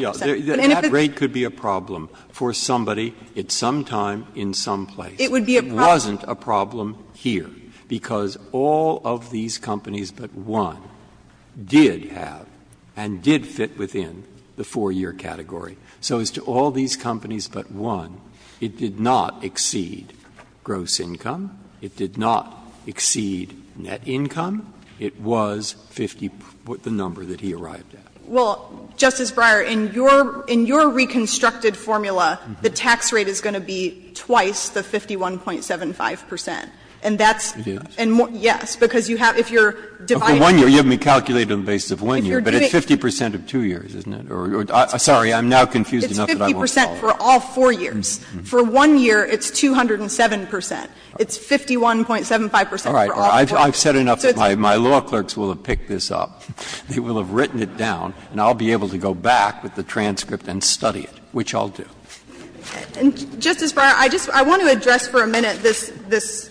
percent. That rate could be a problem for somebody at some time in some place. It would be a problem. It would be a problem here, because all of these companies but one did have and did fit within the 4-year category. So as to all these companies but one, it did not exceed gross income, it did not exceed net income, it was 50 — the number that he arrived at. Well, Justice Breyer, in your — in your reconstructed formula, the tax rate is going to be twice the 51-point-75 percent. And that's — It is. And more — yes, because you have — if you're dividing — For one year, you have me calculate it on the basis of one year, but it's 50 percent of two years, isn't it? Or — sorry, I'm now confused enough that I won't follow. It's 50 percent for all four years. For one year, it's 207 percent. It's 51-point-75 percent for all four years. All right. I've said enough that my law clerks will have picked this up. They will have written it down, and I'll be able to go back with the transcript and study it, which I'll do. And, Justice Breyer, I just — I want to address for a minute this — this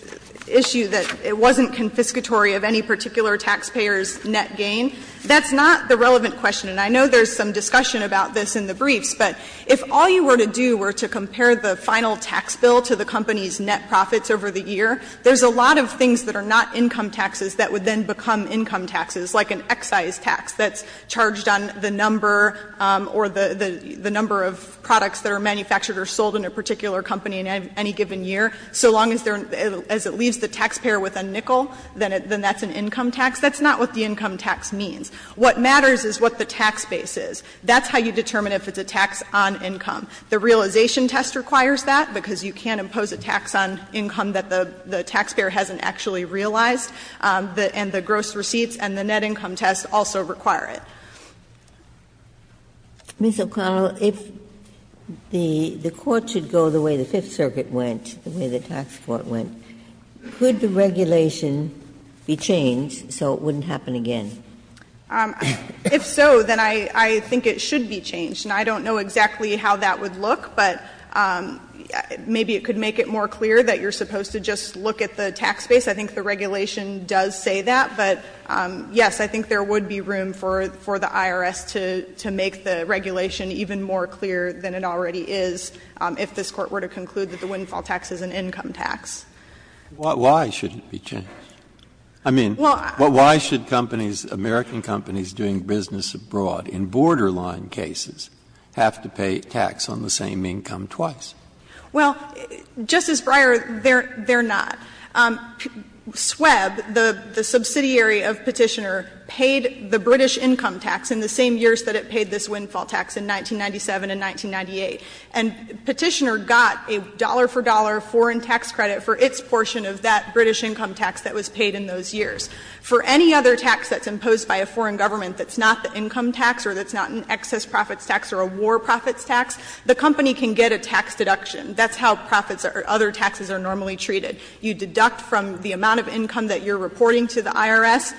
issue that it wasn't confiscatory of any particular taxpayer's net gain. That's not the relevant question, and I know there's some discussion about this in the briefs, but if all you were to do were to compare the final tax bill to the company's net profits over the year, there's a lot of things that are not income taxes that would then become income taxes, like an excise tax that's charged on the number or the number of products that are manufactured or sold in a particular company in any given year. So long as it leaves the taxpayer with a nickel, then that's an income tax. That's not what the income tax means. What matters is what the tax base is. That's how you determine if it's a tax on income. The realization test requires that, because you can't impose a tax on income that the taxpayer hasn't actually realized, and the gross receipts and the net income test also require it. Ms. O'Connell, if the Court should go the way the Fifth Circuit went, the way the tax court went, could the regulation be changed so it wouldn't happen again? If so, then I think it should be changed, and I don't know exactly how that would look, but maybe it could make it more clear that you're supposed to just look at the tax base. I think the regulation does say that, but, yes, I think there would be room for the IRS to make the regulation even more clear than it already is if this Court were to conclude that the windfall tax is an income tax. Why shouldn't it be changed? I mean, why should companies, American companies doing business abroad in borderline cases have to pay tax on the same income twice? Well, Justice Breyer, they're not. SWEB, the subsidiary of Petitioner, paid the British income tax in the same years that it paid this windfall tax in 1997 and 1998. And Petitioner got a dollar-for-dollar foreign tax credit for its portion of that British income tax that was paid in those years. For any other tax that's imposed by a foreign government that's not the income tax or that's not an excess profits tax or a war profits tax, the company can get a tax deduction. That's how profits or other taxes are normally treated. You deduct from the amount of income that you're reporting to the IRS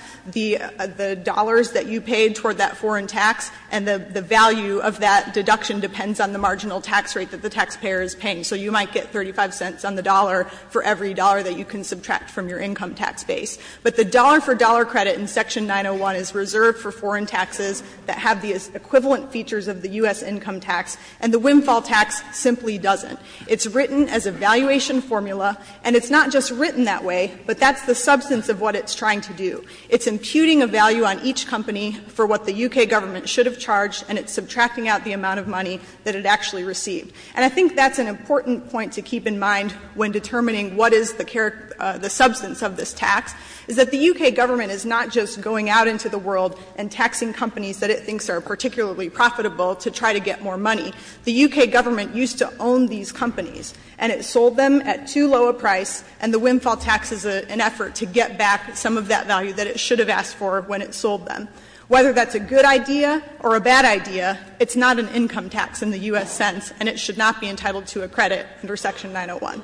the dollars that you paid toward that foreign tax, and the value of that deduction depends on the marginal tax rate that the taxpayer is paying. So you might get 35 cents on the dollar for every dollar that you can subtract from your income tax base. But the dollar-for-dollar credit in Section 901 is reserved for foreign taxes that have the equivalent features of the U.S. income tax, and the windfall tax simply doesn't. It's written as a valuation formula, and it's not just written that way, but that's the substance of what it's trying to do. It's imputing a value on each company for what the U.K. government should have charged, and it's subtracting out the amount of money that it actually received. And I think that's an important point to keep in mind when determining what is the substance of this tax, is that the U.K. government is not just going out into the world and taxing companies that it thinks are particularly profitable to try to get more money. The U.K. government used to own these companies, and it sold them at too low a price, and the windfall tax is an effort to get back some of that value that it should have asked for when it sold them. Whether that's a good idea or a bad idea, it's not an income tax in the U.S. sense, and it should not be entitled to a credit under Section 901.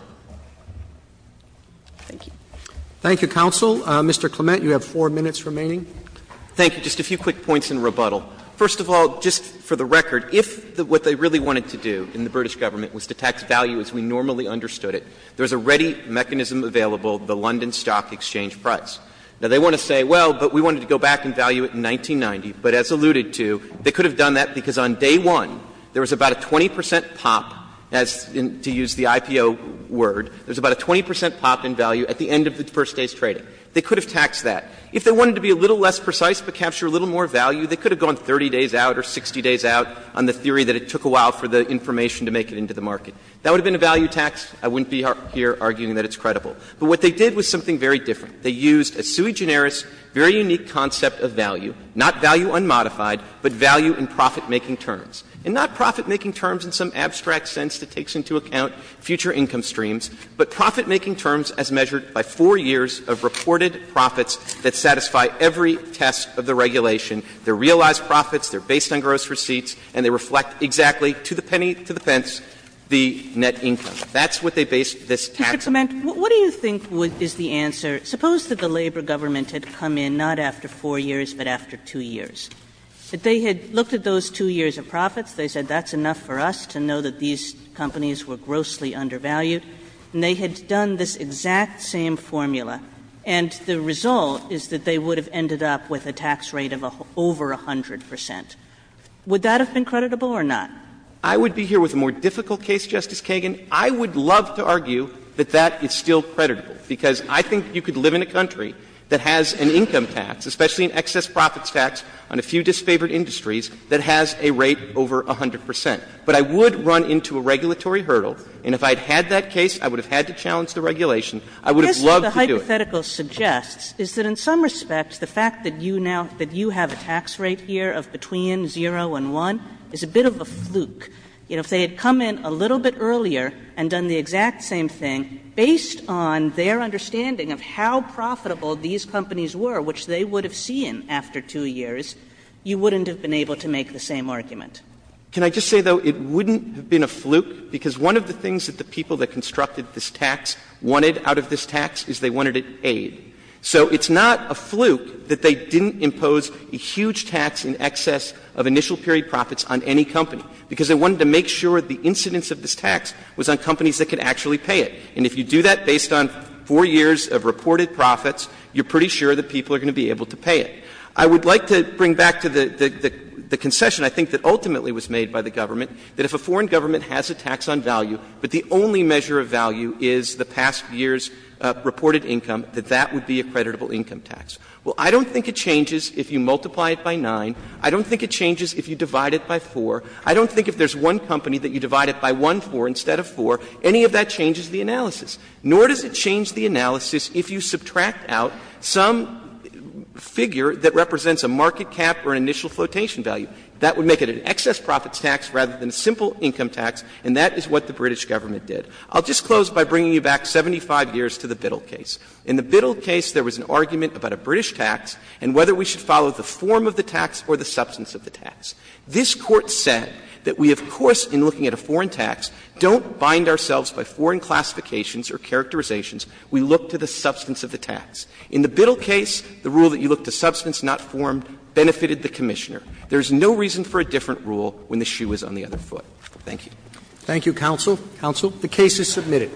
Thank you. Roberts. Thank you, counsel. Mr. Clement, you have four minutes remaining. Clement. Thank you. Just a few quick points in rebuttal. First of all, just for the record, if what they really wanted to do in the British government was to tax value as we normally understood it, there was a ready mechanism available, the London Stock Exchange price. Now, they want to say, well, but we wanted to go back and value it in 1990. But as alluded to, they could have done that because on day one, there was about a 20 percent pop, to use the IPO word, there was about a 20 percent pop in value at the end of the first day's trading. They could have taxed that. If they wanted to be a little less precise but capture a little more value, they could have gone 30 days out or 60 days out on the theory that it took a while for the information to make it into the market. That would have been a value tax. I wouldn't be here arguing that it's credible. But what they did was something very different. They used a sui generis, very unique concept of value, not value unmodified, but value in profitmaking terms. And not profitmaking terms in some abstract sense that takes into account future income streams, but profitmaking terms as measured by four years of reported profits that satisfy every test of the regulation. They are realized profits, they are based on gross receipts, and they reflect exactly, to the penny to the pence, the net income. That's what they based this tax on. Kagan. Kagan. I mean, what do you think is the answer? Suppose that the labor government had come in, not after 4 years, but after 2 years. If they had looked at those two years of profits, they said, that's enough for us to know that these companies were grossly undervalued, and they had done this exact same formula, and the result is that they would have ended up with a tax rate of over 100 percent. Would that have been creditable or not? I would be here with a more difficult case, Justice Kagan. I would love to argue that that is still creditable, because I think you could live in a country that has an income tax, especially an excess profits tax on a few disfavored industries, that has a rate over 100 percent. But I would run into a regulatory hurdle, and if I had had that case, I would have had to challenge the regulation. I would have loved to do it. Kagan. I guess what the hypothetical suggests is that in some respects, the fact that you now — that you have a tax rate here of between 0 and 1 is a bit of a fluke. You know, if they had come in a little bit earlier and done the exact same thing, based on their understanding of how profitable these companies were, which they would have seen after 2 years, you wouldn't have been able to make the same argument. Can I just say, though, it wouldn't have been a fluke, because one of the things that the people that constructed this tax wanted out of this tax is they wanted an aid. So it's not a fluke that they didn't impose a huge tax in excess of initial period profits on any company, because they wanted to make sure the incidence of this tax was on companies that could actually pay it. And if you do that based on 4 years of reported profits, you're pretty sure that people are going to be able to pay it. I would like to bring back to the concession, I think, that ultimately was made by the government has a tax on value, but the only measure of value is the past year's reported income, that that would be a creditable income tax. Well, I don't think it changes if you multiply it by 9. I don't think it changes if you divide it by 4. I don't think if there's one company that you divide it by 1-4 instead of 4, any of that changes the analysis. Nor does it change the analysis if you subtract out some figure that represents a market cap or an initial flotation value. That would make it an excess profits tax rather than a simple income tax, and that is what the British government did. I'll just close by bringing you back 75 years to the Biddle case. In the Biddle case, there was an argument about a British tax and whether we should follow the form of the tax or the substance of the tax. This Court said that we, of course, in looking at a foreign tax, don't bind ourselves by foreign classifications or characterizations. We look to the substance of the tax. In the Biddle case, the rule that you look to substance, not form, benefited the Commissioner. There is no reason for a different rule when the shoe is on the other foot. Thank you. Roberts. Thank you, counsel. Counsel. The case is submitted.